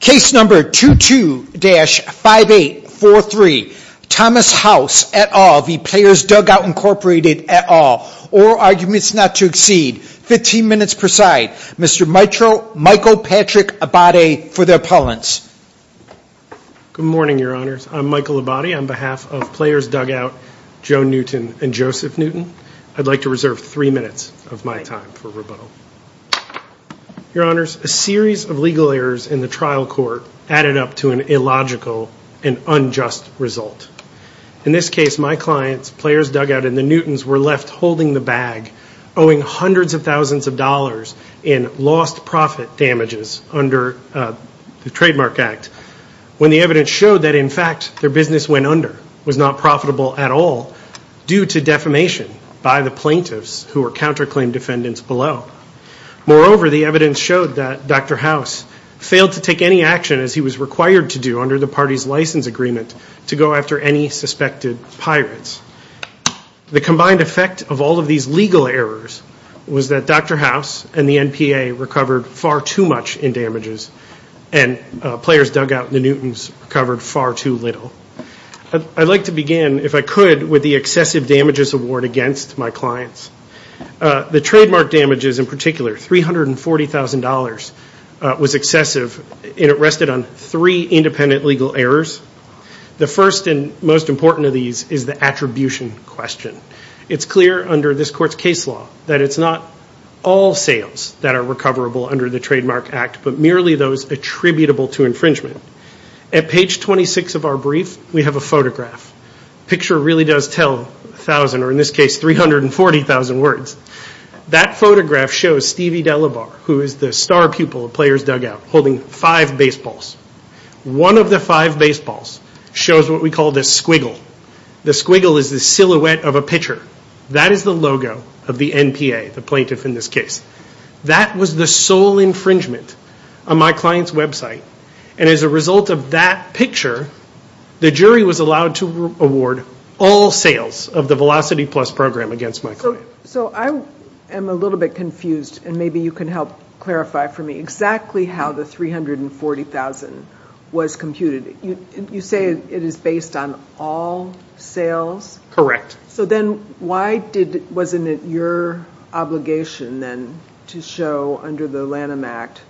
Case number 22-5843 Thomas House et al v. Players Dugout Incorporated et al All arguments not to exceed 15 minutes per side Mr. Michael Patrick Abadie for the appellants Good morning your honors I'm Michael Abadie on behalf of Players Dugout Joe Newton and Joseph Newton I'd like to reserve three minutes of my time for rebuttal Your honors a series of legal errors in the trial court added up to an illogical and unjust result In this case my clients Players Dugout and the Newtons were left holding the bag Owing hundreds of thousands of dollars in lost profit damages under the Trademark Act When the evidence showed that in fact their business went under was not profitable at all Due to defamation by the plaintiffs who were counterclaim defendants below Moreover the evidence showed that Dr. House failed to take any action as he was required to do Under the parties license agreement to go after any suspected pirates The combined effect of all of these legal errors was that Dr. House and the NPA recovered far too much in damages And Players Dugout and the Newtons recovered far too little I'd like to begin if I could with the excessive damages award against my clients The trademark damages in particular $340,000 was excessive and it rested on three independent legal errors The first and most important of these is the attribution question It's clear under this court's case law that it's not all sales that are recoverable under the Trademark Act But merely those attributable to infringement At page 26 of our brief we have a photograph The picture really does tell a thousand or in this case 340,000 words That photograph shows Stevie Delabarre who is the star pupil of Players Dugout holding five baseballs One of the five baseballs shows what we call the squiggle The squiggle is the silhouette of a pitcher That is the logo of the NPA, the plaintiff in this case That was the sole infringement on my client's website And as a result of that picture the jury was allowed to award all sales of the Velocity Plus program against my client So I am a little bit confused and maybe you can help clarify for me exactly how the $340,000 was computed You say it is based on all sales? Correct So then why wasn't it your obligation then to show under the Lanham Act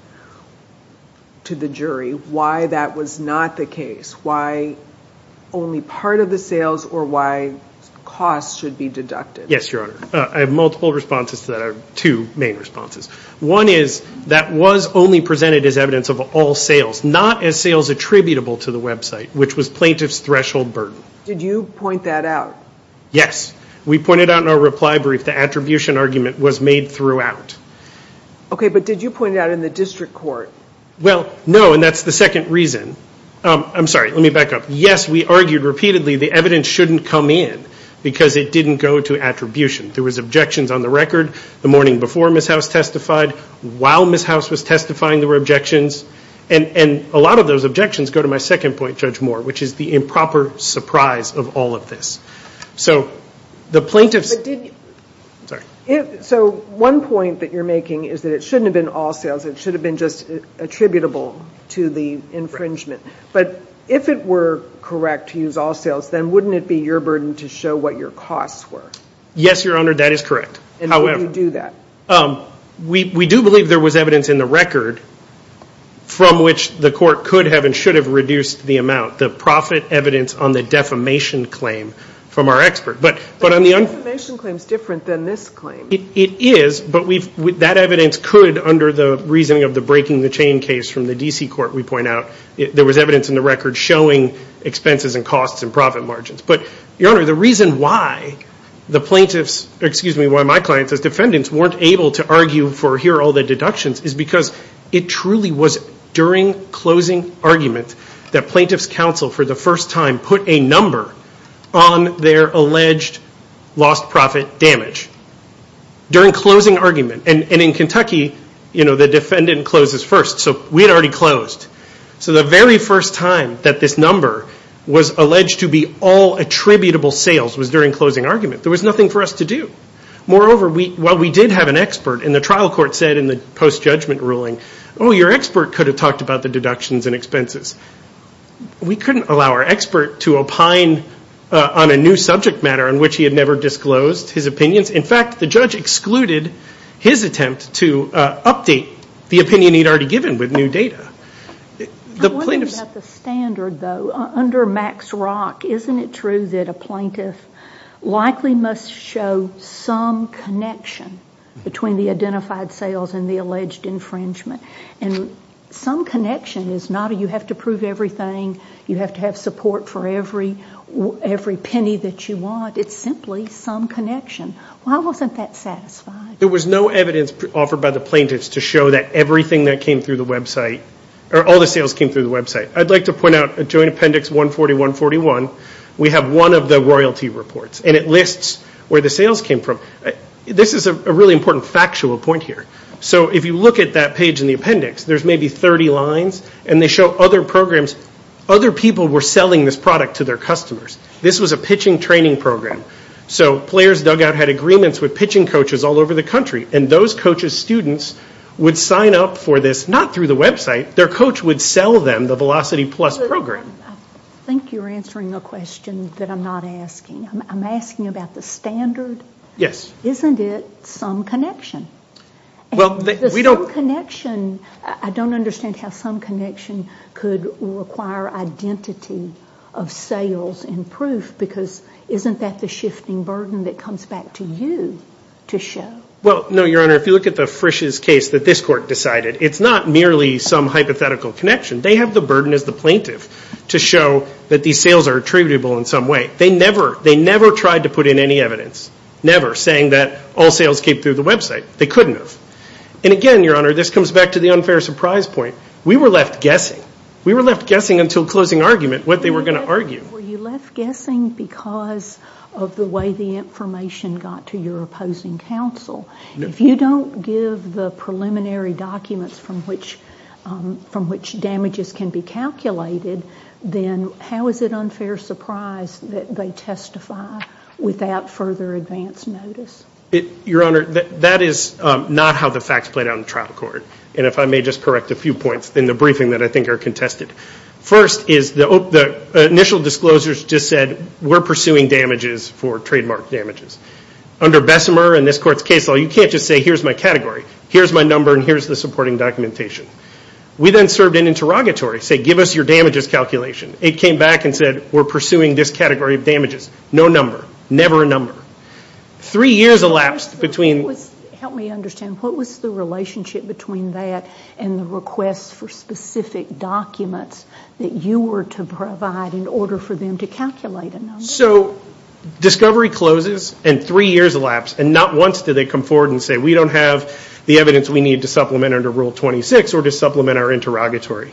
to the jury why that was not the case Why only part of the sales or why costs should be deducted? Yes, Your Honor. I have multiple responses to that. I have two main responses One is that was only presented as evidence of all sales Not as sales attributable to the website which was plaintiff's threshold burden Did you point that out? Yes, we pointed out in our reply brief the attribution argument was made throughout Okay, but did you point it out in the district court? Well, no and that is the second reason I am sorry, let me back up Yes, we argued repeatedly the evidence shouldn't come in because it didn't go to attribution There was objections on the record the morning before Ms. House testified While Ms. House was testifying there were objections And a lot of those objections go to my second point, Judge Moore, which is the improper surprise of all of this So the plaintiffs So one point that you are making is that it shouldn't have been all sales It should have been just attributable to the infringement But if it were correct to use all sales then wouldn't it be your burden to show what your costs were? Yes, Your Honor, that is correct And how do you do that? We do believe there was evidence in the record from which the court could have and should have reduced the amount The profit evidence on the defamation claim from our expert But the defamation claim is different than this claim It is, but that evidence could under the reasoning of the breaking the chain case from the D.C. court we point out There was evidence in the record showing expenses and costs and profit margins But, Your Honor, the reason why the plaintiffs, excuse me, why my clients as defendants weren't able to argue for here all the deductions Is because it truly was during closing argument that plaintiffs counsel for the first time put a number on their alleged lost profit damage During closing argument, and in Kentucky, you know, the defendant closes first, so we had already closed So the very first time that this number was alleged to be all attributable sales was during closing argument There was nothing for us to do Moreover, while we did have an expert and the trial court said in the post-judgment ruling Oh, your expert could have talked about the deductions and expenses We couldn't allow our expert to opine on a new subject matter on which he had never disclosed his opinions In fact, the judge excluded his attempt to update the opinion he had already given with new data I'm wondering about the standard though Under Max Rock, isn't it true that a plaintiff likely must show some connection Between the identified sales and the alleged infringement And some connection is not you have to prove everything, you have to have support for every penny that you want It's simply some connection Why wasn't that satisfied? There was no evidence offered by the plaintiffs to show that everything that came through the website Or all the sales came through the website I'd like to point out a joint appendix 140-141 We have one of the royalty reports And it lists where the sales came from This is a really important factual point here So if you look at that page in the appendix There's maybe 30 lines and they show other programs Other people were selling this product to their customers This was a pitching training program So Players' Dugout had agreements with pitching coaches all over the country And those coaches' students would sign up for this Not through the website, their coach would sell them the Velocity Plus program I think you're answering a question that I'm not asking I'm asking about the standard Isn't it some connection? I don't understand how some connection could require identity of sales and proof Because isn't that the shifting burden that comes back to you to show? If you look at the Frisch's case that this court decided It's not merely some hypothetical connection They have the burden as the plaintiff To show that these sales are attributable in some way They never tried to put in any evidence Never saying that all sales came through the website They couldn't have And again, Your Honor, this comes back to the unfair surprise point We were left guessing We were left guessing until closing argument what they were going to argue Were you left guessing because of the way the information got to your opposing counsel? If you don't give the preliminary documents from which damages can be calculated Then how is it unfair surprise that they testify without further advance notice? Your Honor, that is not how the facts play out in the trial court And if I may just correct a few points in the briefing that I think are contested First is the initial disclosures just said We're pursuing damages for trademark damages Under Bessemer and this court's case law You can't just say here's my category Here's my number and here's the supporting documentation We then served an interrogatory Say give us your damages calculation It came back and said we're pursuing this category of damages No number, never a number Three years elapsed between Help me understand What was the relationship between that And the request for specific documents That you were to provide in order for them to calculate a number So discovery closes And three years elapsed And not once did they come forward and say We don't have the evidence we need to supplement under Rule 26 Or to supplement our interrogatory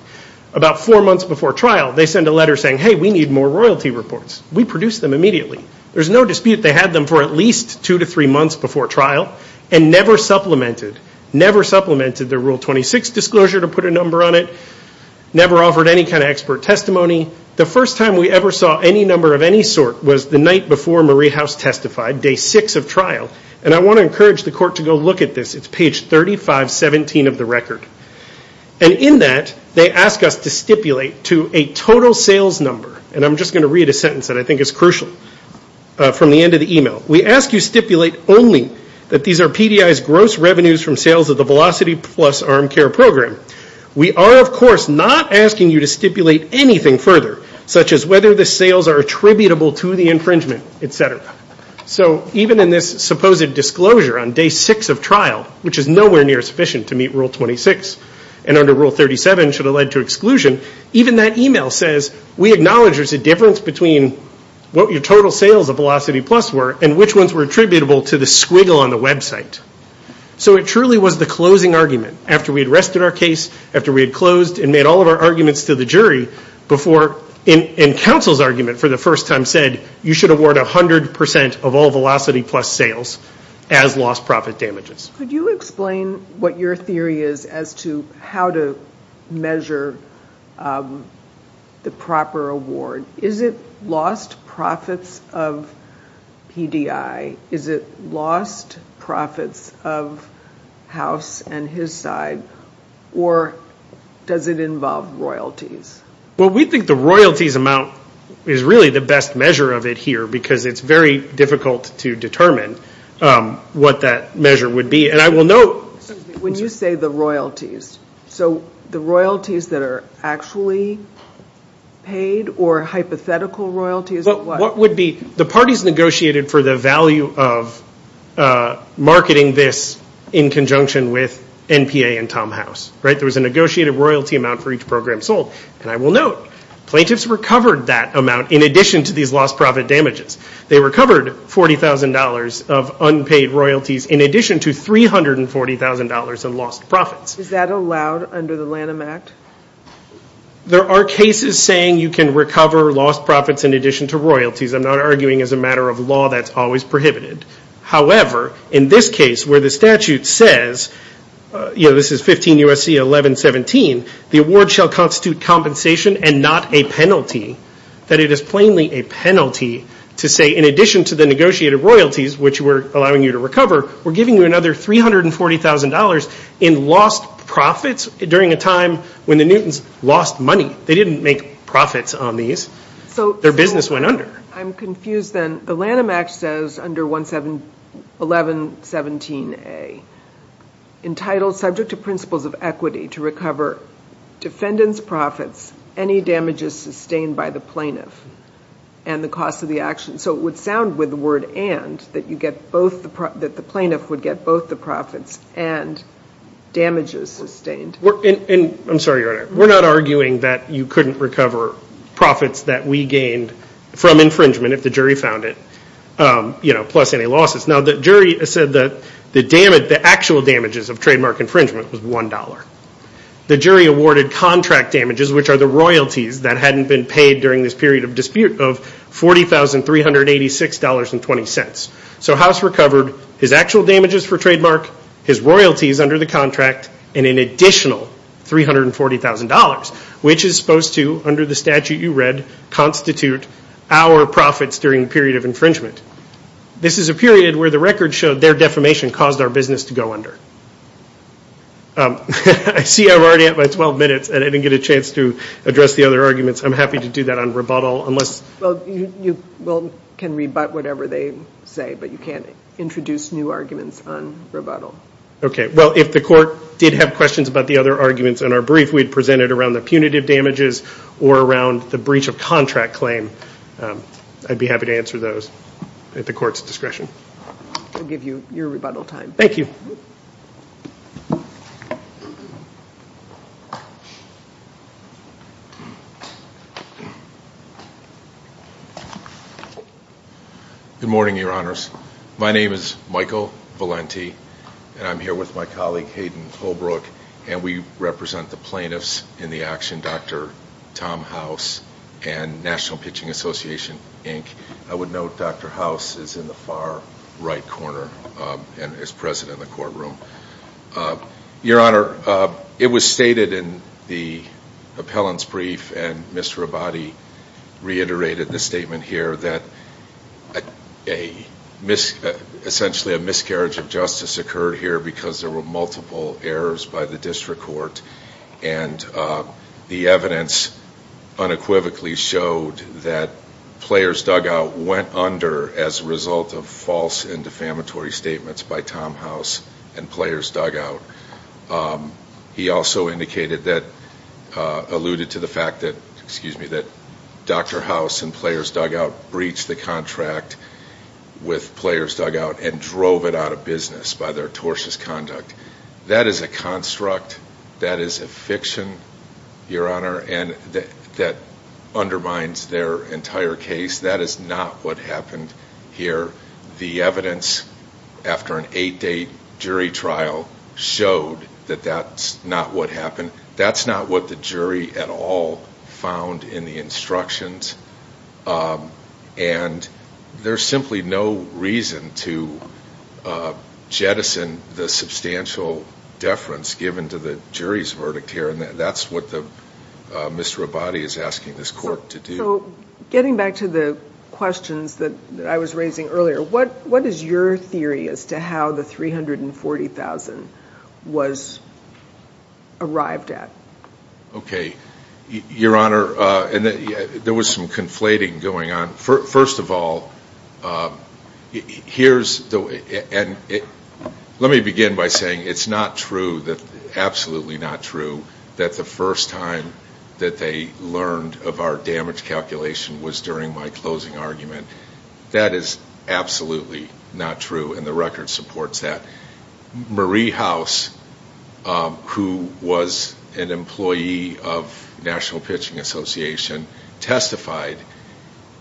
About four months before trial They send a letter saying hey we need more royalty reports We produce them immediately There's no dispute they had them for at least two to three months before trial And never supplemented Never supplemented the Rule 26 disclosure to put a number on it Never offered any kind of expert testimony The first time we ever saw any number of any sort Was the night before Marie House testified Day six of trial And I want to encourage the court to go look at this It's page 3517 of the record And in that They ask us to stipulate to a total sales number And I'm just going to read a sentence that I think is crucial From the end of the email We ask you stipulate only That these are PDI's gross revenues from sales of the Velocity Plus arm care program We are of course not asking you to stipulate anything further Such as whether the sales are attributable to the infringement Et cetera So even in this supposed disclosure on day six of trial Which is nowhere near sufficient to meet Rule 26 And under Rule 37 should have led to exclusion Even that email says We acknowledge there's a difference between What your total sales of Velocity Plus were And which ones were attributable to the squiggle on the website So it truly was the closing argument After we had rested our case After we had closed and made all of our arguments to the jury Before in counsel's argument for the first time said You should award 100% of all Velocity Plus sales As lost profit damages Could you explain what your theory is As to how to measure The proper award Is it lost profits of PDI Is it lost profits of House and his side Or does it involve royalties Well we think the royalties amount Is really the best measure of it here Because it's very difficult to determine What that measure would be And I will note When you say the royalties So the royalties that are actually paid Or hypothetical royalties What would be The parties negotiated for the value of Marketing this in conjunction with NPA and Tom House There was a negotiated royalty amount for each program sold And I will note Plaintiffs recovered that amount In addition to these lost profit damages They recovered $40,000 Of unpaid royalties In addition to $340,000 in lost profits Is that allowed under the Lanham Act There are cases saying You can recover lost profits In addition to royalties I'm not arguing as a matter of law That's always prohibited However In this case where the statute says You know this is 15 U.S.C. 1117 The award shall constitute compensation And not a penalty That it is plainly a penalty To say in addition to the negotiated royalties Which we're allowing you to recover We're giving you another $340,000 In lost profits During a time when the Newtons lost money They didn't make profits on these Their business went under I'm confused then The Lanham Act says Under 1117A Entitled subject to principles of equity To recover defendant's profits Any damages sustained by the plaintiff And the cost of the action So it would sound with the word and That you get both That the plaintiff would get both the profits And damages sustained I'm sorry your honor We're not arguing that You couldn't recover profits That we gained from infringement If the jury found it You know plus any losses Now the jury said that The actual damages of trademark infringement Was $1 The jury awarded contract damages Which are the royalties That hadn't been paid During this period of dispute Of $40,386.20 So House recovered His actual damages for trademark His royalties under the contract And an additional $340,000 Which is supposed to Under the statute you read Constitute our profits During the period of infringement This is a period where the record showed Their defamation caused our business to go under I see I'm already at my 12 minutes And I didn't get a chance to Address the other arguments I'm happy to do that on rebuttal Unless Well you can rebut whatever they say But you can't introduce new arguments On rebuttal Okay well if the court did have questions About the other arguments in our brief We'd present it around the punitive damages Or around the breach of contract claim I'd be happy to answer those At the court's discretion We'll give you your rebuttal time Thank you Good morning your honors My name is Michael Valenti And I'm here with my colleague Hayden Holbrook And we represent the plaintiffs In the action Dr. Tom House And National Pitching Association Inc. I would note Dr. House is in the far right corner And is present in the courtroom Your honor It was stated in the appellant's brief And Mr. Abadi reiterated the statement here That essentially a miscarriage of justice occurred here Because there were multiple errors by the district court And the evidence unequivocally showed That Players Dugout went under As a result of false and defamatory statements By Tom House and Players Dugout He also alluded to the fact that Dr. House and Players Dugout Breached the contract with Players Dugout And drove it out of business by their tortious conduct That is a construct That is a fiction Your honor And that undermines their entire case That is not what happened here The evidence after an 8 day jury trial Showed that that's not what happened That's not what the jury at all Found in the instructions And there's simply no reason to Jettison the substantial Deference given to the jury's verdict here And that's what Mr. Abadi is asking this court to do Getting back to the questions that I was raising earlier What is your theory as to how the $340,000 Was arrived at Okay Your honor And there was some conflating going on First of all Here's the way And let me begin by saying It's not true Absolutely not true That the first time That they learned of our damage calculation Was during my closing argument That is absolutely not true And the record supports that Marie House Who was an employee of National Pitching Association Testified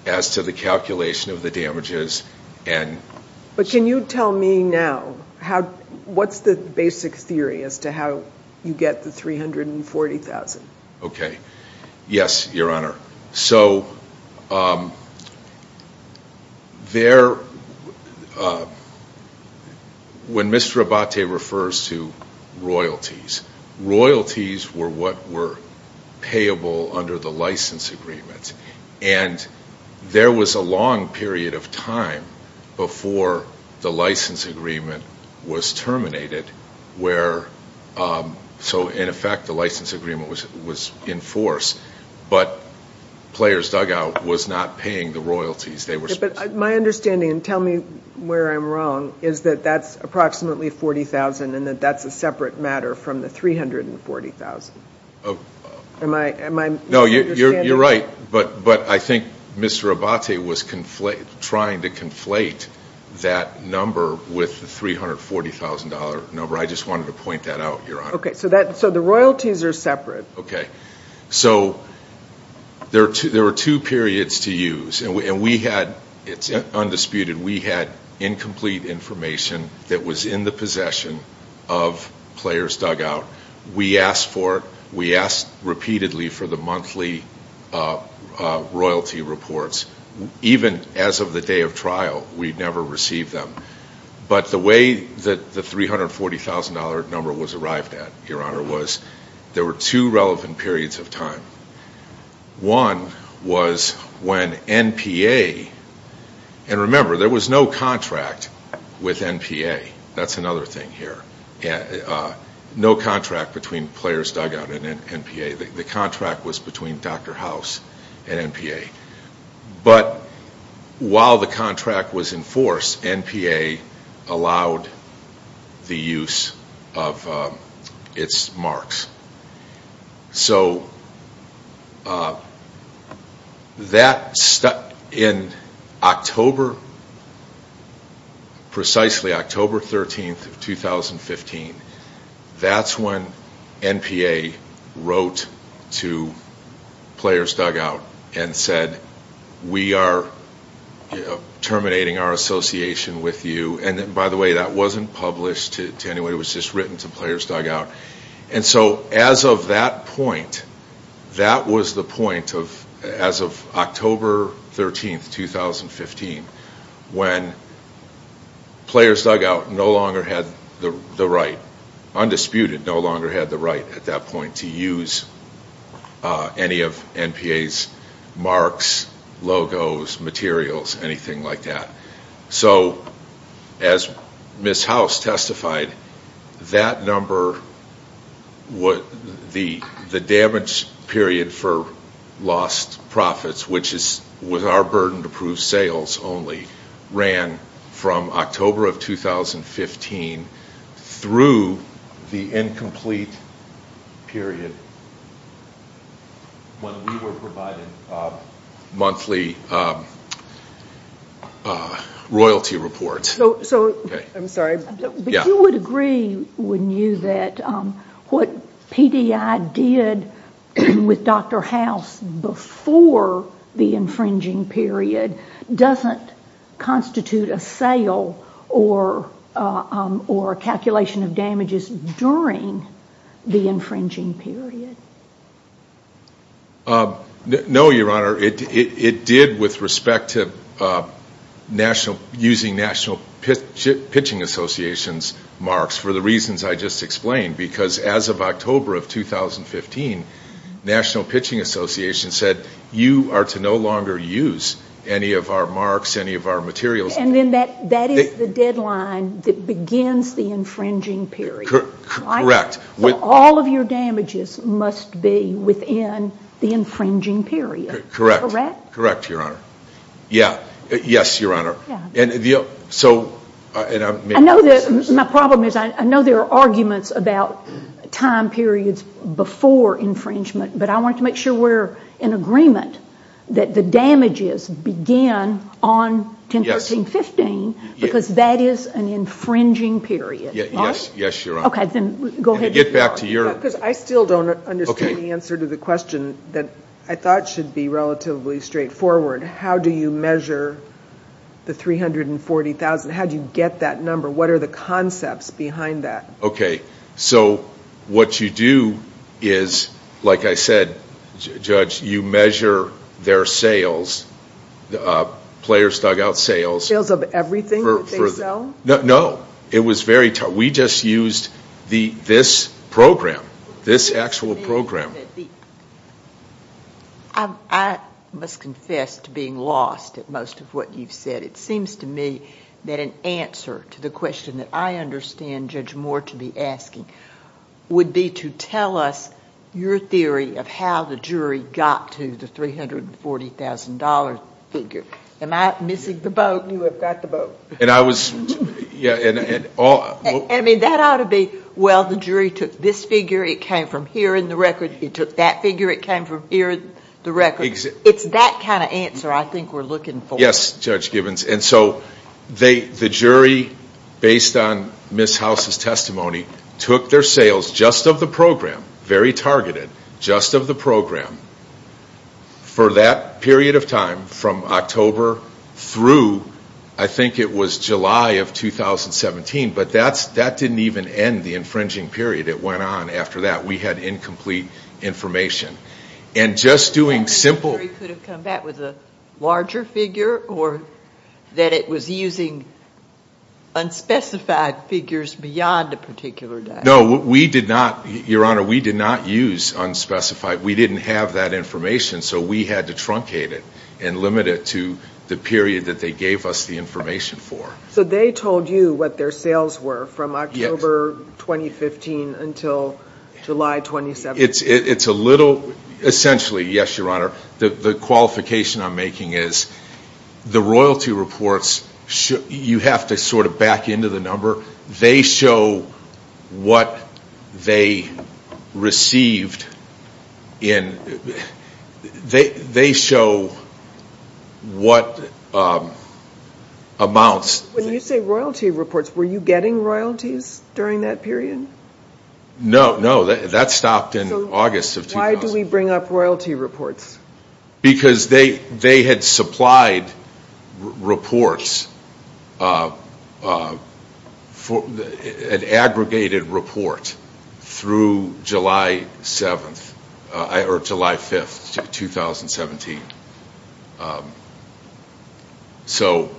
as to the calculation of the damages And But can you tell me now How What's the basic theory as to how You get the $340,000 Okay Yes, your honor So There When Mr. Abadi refers to royalties Royalties were what were Payable under the license agreement And There was a long period of time Before the license agreement Was terminated Where So in effect the license agreement was Enforced But Players dugout was not paying the royalties But my understanding and tell me Where I'm wrong Is that that's approximately 40,000 And that that's a separate matter from the 340,000 Am I No, you're right But I think Mr. Abadi was Trying to conflate That number with the $340,000 number I just wanted to point that out, your honor Okay, so the royalties are separate Okay So There were two periods to use And we had It's undisputed We had incomplete information That was in the possession Of Players dugout We asked for it We asked repeatedly for the monthly Royalty reports Even as of the day of trial We never received them But the way that the $340,000 number was arrived at Your honor was There were two relevant periods of time One Was When NPA And remember there was no contract With NPA That's another thing here No contract between players dugout and NPA The contract was between Dr. House And NPA But While the contract was in force NPA Allowed The use Of Its marks So That In October Precisely October 13, 2015 That's when NPA Wrote to Players dugout And said We are Terminating our association with you And by the way that wasn't published to anyone It was just written to players dugout And so as of that point That was the point of As of October 13, 2015 When Players dugout no longer had the right Undisputed no longer had the right at that point to use Any of NPA's Marks Logos Materials Anything like that So As Ms. House testified That number Would The The damage Period for Lost Profits which is With our burden to prove sales only Ran From October of 2015 Through The incomplete Period When we were provided Monthly Royalty reports So I'm sorry But you would agree Wouldn't you that What PDI did With Dr. House Before The infringing period Doesn't Constitute a sale Or Calculation of damages during The infringing period No your honor it did with respect to National Using national Pitching associations Marks for the reasons I just explained Because as of October of 2015 National Pitching Association said You are to no longer use Any of our marks any of our materials And then that that is the deadline That begins the infringing period Correct All of your damages must be within The infringing period Correct Correct your honor Yeah Yes your honor Yeah So I know that My problem is I know there are arguments About time periods Before infringement But I want to make sure we're In agreement That the damages begin On 10, 13, 15 Because that is an infringing period Yes your honor Okay then go ahead Get back to your Because I still don't understand the answer to the question That I thought should be relatively straightforward How do you measure The 340,000 How do you get that number What are the concepts behind that Okay So What you do Is Like I said Judge you measure Their sales Players dug out sales Sales of everything that they sell No It was very tough We just used The this program This actual program I must confess to being lost At most of what you've said It seems to me That an answer to the question That I understand Judge Moore to be asking Would be to tell us Your theory of how the jury Got to the 340,000 figure Am I missing the boat You have got the boat And I was Yeah and I mean that ought to be Well the jury took this figure It came from here in the record It took that figure It came from here in the record It's that kind of answer I think we're looking for Yes Judge Gibbons And so The jury Based on Ms. House's testimony Took their sales Just of the program Very targeted Just of the program For that period of time From October Through I think it was July of 2017 But that's That didn't even end The infringing period It went on after that We had incomplete Information And just doing simple The jury could have come back With a larger figure Or That it was using Unspecified figures Beyond a particular date No we did not Your Honor We did not use Unspecified We didn't have that information So we had to truncate it And limit it to The period that they gave us The information for So they told you What their sales were From October 2015 Until July 2017 It's a little Essentially Yes Your Honor The qualification I'm making is The royalty reports You have to sort of Back into the number They show What they Received In They show What Amounts When you say royalty reports Were you getting royalties During that period No no That stopped in August of Why do we bring up royalty reports Because they They had supplied Reports For An aggregated report Through July 7th Or July 5th 2017 So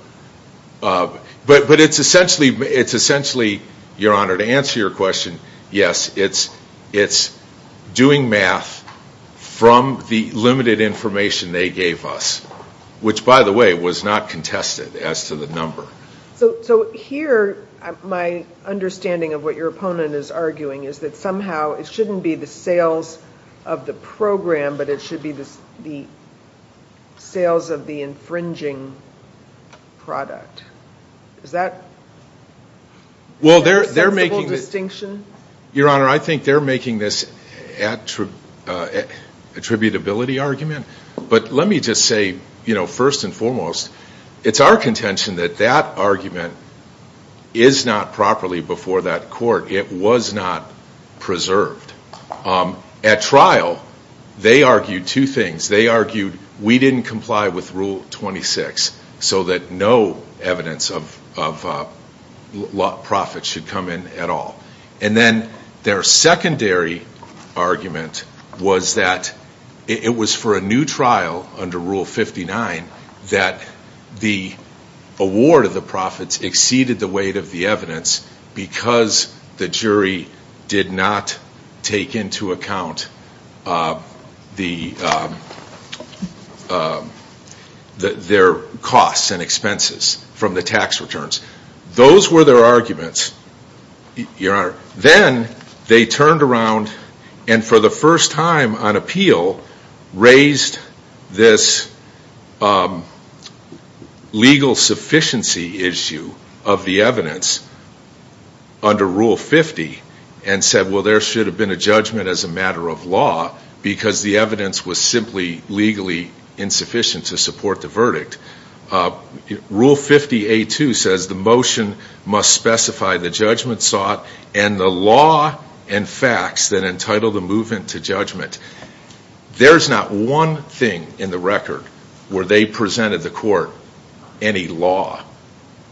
But it's essentially It's essentially Your Honor To answer your question Yes it's It's Doing math From the limited information They gave us Which by the way Was not contested As to the number So here My understanding of what your opponent is arguing Is that somehow It shouldn't be the sales Of the program But it should be the Sales of the infringing Product Is that Well they're making A sensible distinction Your Honor I think they're making this At Attributability argument But let me just say You know first and foremost It's our contention that that argument Is not properly before that court It was not Preserved At trial They argued two things They argued We didn't comply with Rule 26 So that no Evidence of Profit should come in at all And then Their secondary Argument Was that It was for a new trial Under Rule 59 That the Award of the profits Exceeded the weight of the evidence Because the jury Did not Take into account The Their costs and expenses From the tax returns Those were their arguments Your Honor Then They turned around And for the first time on appeal Raised This Legal Sufficiency issue Of the evidence Under Rule 50 And said well there should have been a judgment As a matter of law Because the evidence was simply Legally Insufficient to support the verdict Rule 50A2 Says the motion Must specify the judgment sought And the law And facts That entitle the movement to judgment There's not one Thing in the record Where they presented the court Any law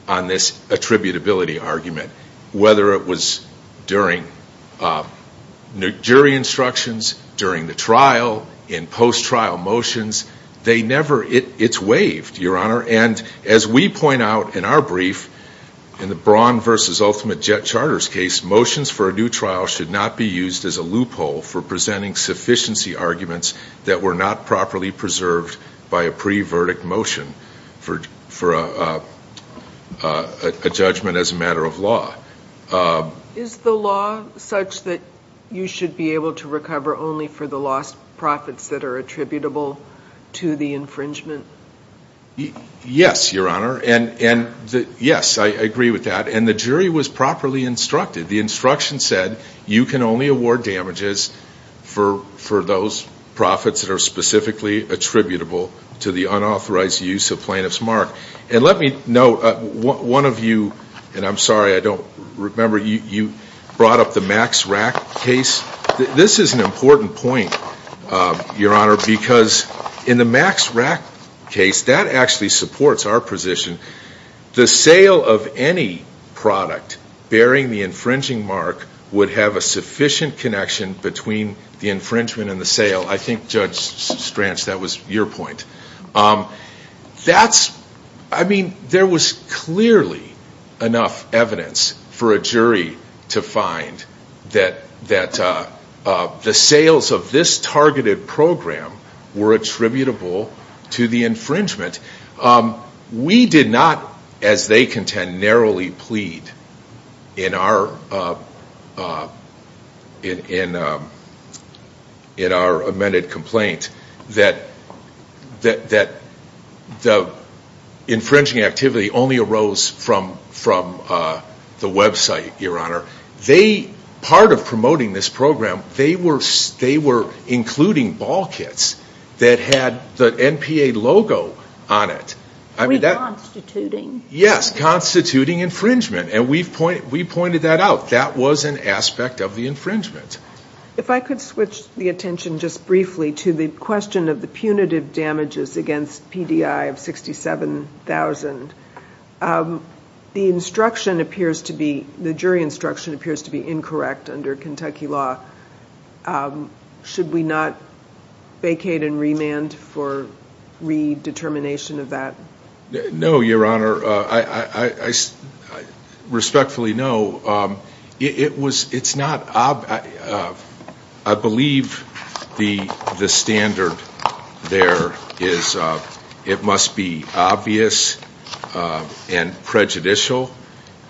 On this attributability argument Whether it was During Jury instructions During the trial In post trial motions They never It's waived Your Honor And as we point out In our brief In the Braun v. Ultimate Jet Charters case Motions for a new trial should not be used As a loophole for presenting Sufficiency arguments That were not properly preserved By a pre-verdict motion For a A judgment as a matter of law Is the law Such that You should be able to recover only for the lost Profits that are attributable To the infringement Yes Your Honor And yes I agree with that And the jury was properly instructed The instruction said You can only award damages For those profits That are specifically attributable To the unauthorized use of plaintiff's mark And let me note One of you And I'm sorry I don't remember You brought up the Max Rack case This is an important point Your Honor Because in the Max Rack case That actually supports our position The sale of any Product Bearing the infringing mark Would have a sufficient connection Between the infringement and the sale I think Judge Stranch That was your point That's I mean there was clearly Enough evidence for a jury To find That the sales Of this targeted program Were attributable To the infringement We did not As they contend Narrowly plead In our In our amended complaint That The Infringing activity only arose From The website Your Honor Part of promoting this program They were Including ball kits That had the NPA logo On it Yes Constituting infringement And we pointed that out That was an aspect of the infringement If I could switch the attention Just briefly to the question Of the punitive damages Against PDI of 67,000 The instruction Appears to be The jury instruction appears to be Incorrect under Kentucky law Should we not Vacate and remand For redetermination of that No Your Honor I Respectfully know It's not I believe The standard There is It must be obvious And prejudicial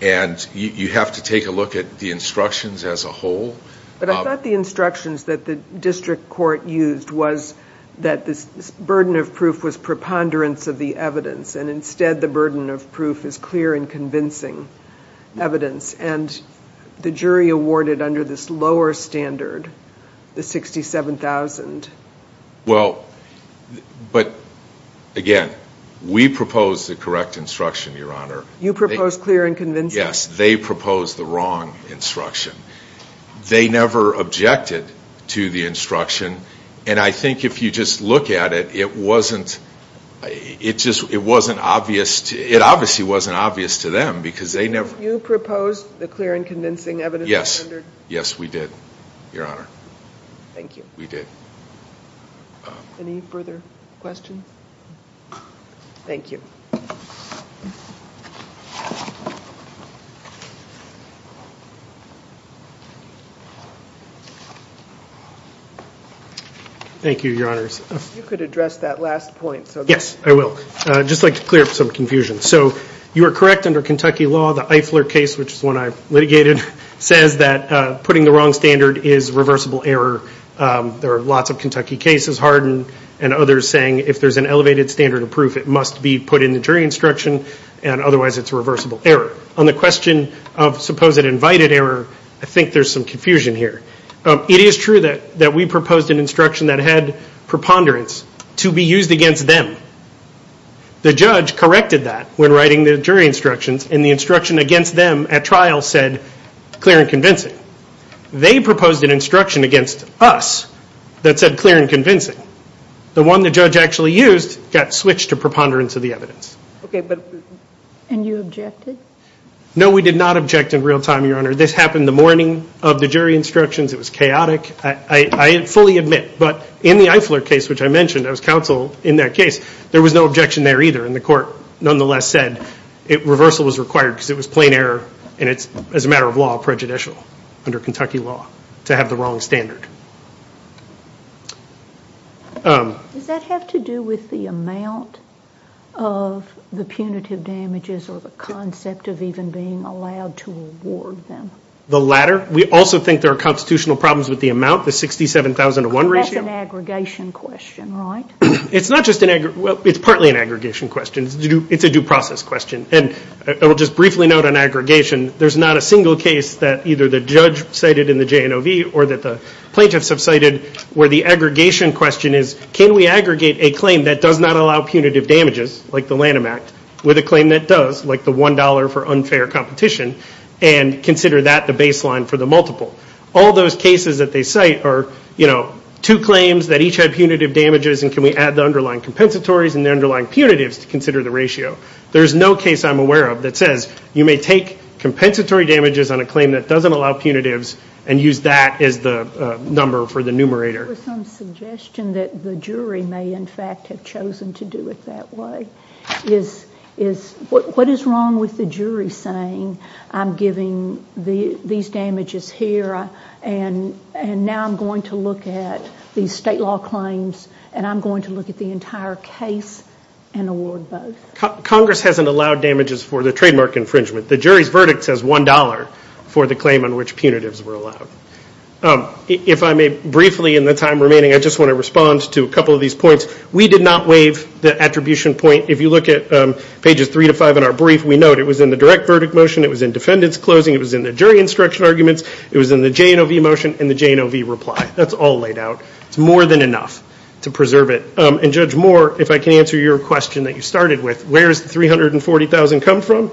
And you have to take a look At the instructions as a whole But I thought the instructions That the district court used Was that this burden of proof Was preponderance of the evidence And instead the burden of proof Is clear and convincing Evidence and The jury awarded under this lower standard The 67,000 Well But Again we proposed the correct Instruction Your Honor You proposed clear and convincing Yes they proposed the wrong instruction They never objected To the instruction And I think if you just look at it It wasn't It just wasn't obvious It obviously wasn't obvious to them Because they never You proposed the clear and convincing evidence Yes we did Your Honor Thank you Any further questions Thank you Thank you Your Honor You could address that last point Yes I will I'd just like to clear up some confusion So you are correct under Kentucky law The Eifler case which is one I litigated Says that putting the wrong standard Is reversible error There are lots of Kentucky cases Harden and others saying If there's an elevated standard of proof It must be put in the jury instruction And otherwise it's reversible error On the question of suppose it invited error I think there's some confusion here It is true that we proposed An instruction that had preponderance To be used against them The judge corrected that When writing the jury instructions And the instruction against them at trial said Clear and convincing They proposed an instruction against us That said clear and convincing The one the judge actually used Got switched to preponderance of the evidence Okay but And you objected No we did not object in real time Your Honor This happened the morning of the jury instructions It was chaotic I fully admit but in the Eifler case Which I mentioned I was counsel in that case There was no objection there either And the court nonetheless said Reversal was required because it was plain error And it's as a matter of law prejudicial Under Kentucky law to have the wrong standard Does that have to do with the amount Of the punitive damages Or the concept of even being allowed To reward them The latter we also think there are Constitutional problems with the amount The 67,000 to one ratio That's an aggregation question right It's partly an aggregation question It's a due process question And I will just briefly note on aggregation There's not a single case that either the judge Cited in the JNOV or that the Plaintiffs have cited where the aggregation Question is can we aggregate a claim That does not allow punitive damages Like the Lanham Act with a claim that does Like the one dollar for unfair competition And consider that the baseline For the multiple All those cases that they cite are Two claims that each had punitive damages And can we add the underlying compensatories And the underlying punitives to consider the ratio There's no case I'm aware of that says You may take compensatory damages On a claim that doesn't allow punitives And use that as the number For the numerator Was there some suggestion that the jury May in fact have chosen to do it That way What is wrong with the jury Saying I'm giving These damages here And now I'm going To look at these state law claims And I'm going to look at the entire Case and award both Congress hasn't allowed damages For the trademark infringement The jury's verdict says one dollar for the claim On which punitives were allowed If I may briefly in the time We did not waive The attribution point if you look at Pages three to five in our brief we know It was in the direct verdict motion It was in defendants closing It was in the jury instruction arguments It was in the J&OV motion and the J&OV reply That's all laid out It's more than enough to preserve it And Judge Moore if I can answer your question That you started with Where's the 340,000 come from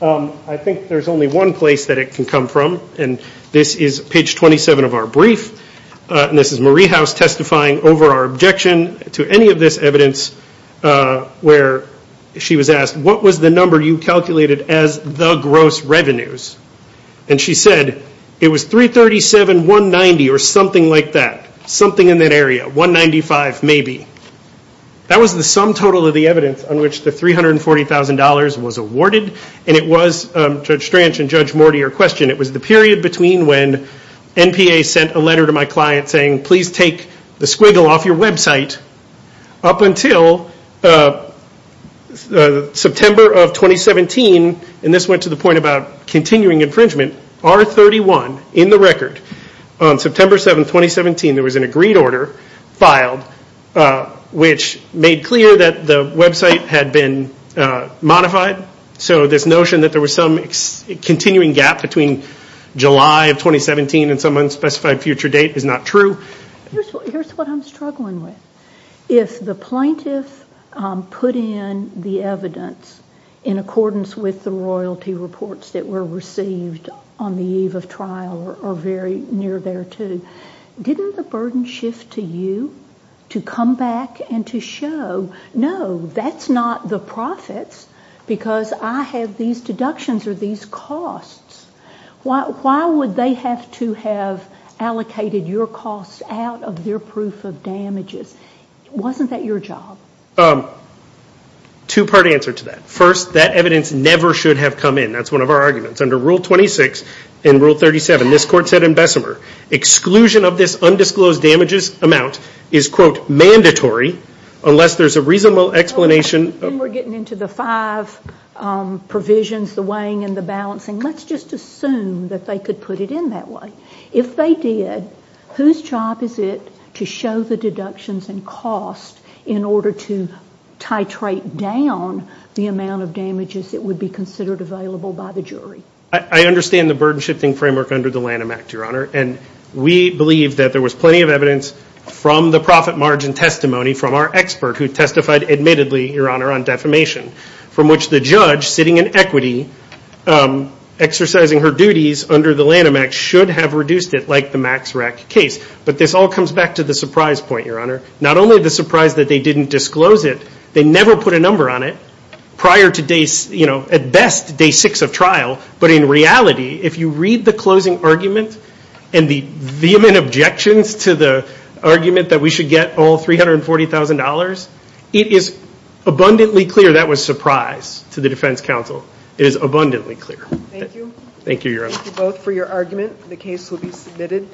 I think there's only one place that it can come from And this is page 27 of our brief And this is Marie House Testifying over our objection To any of this evidence Where she was asked What was the number you calculated as The gross revenues And she said it was 337,190 or something like that Something in that area 195 maybe That was the sum total of the evidence On which the 340,000 was awarded And it was Judge Stranch And Judge Moore to your question It was the period between when NPA sent a letter to my client saying Please take the squiggle off your website Up until September of 2017 And this went to the point about Continuing infringement R31 in the record September 7, 2017 there was an agreed order Filed Which made clear that the website Had been modified So this notion that there was some Continuing gap between July of 2017 and some unspecified Future date is not true Here's what I'm struggling with If the plaintiff Put in the evidence In accordance with the Royalty reports that were received On the eve of trial Or very near there too Didn't the burden shift to you To come back and to show No, that's not The profits because I have these deductions or these Costs Why would they have to have Allocated your costs out of Their proof of damages Wasn't that your job? Two part answer to that First, that evidence never should have Come in, that's one of our arguments Under Rule 26 and Rule 37 This court said in Bessemer Exclusion of this undisclosed damages amount Is quote mandatory Unless there's a reasonable explanation Then we're getting into the five Provisions, the weighing and the Balancing, let's just assume that They could put it in that way If they did, whose job is it To show the deductions and Costs in order to Titrate down The amount of damages that would be Considered available by the jury I understand the burden shifting framework Under the Lanham Act, Your Honor, and we Believe that there was plenty of evidence From the profit margin testimony From our expert who testified admittedly Your Honor, on defamation From which the judge sitting in equity Exercising her duties Under the Lanham Act should have Reduced it like the Max Rack case But this all comes back to the surprise point, Your Honor Not only the surprise that they didn't Disclose it, they never put a number on it Prior to day, you know At best, day six of trial But in reality, if you read the closing Argument and the Vehement objections to the Argument that we should get all $340,000, it is Abundantly clear that was surprise To the defense counsel It is abundantly clear Thank you both for your argument The case will be submitted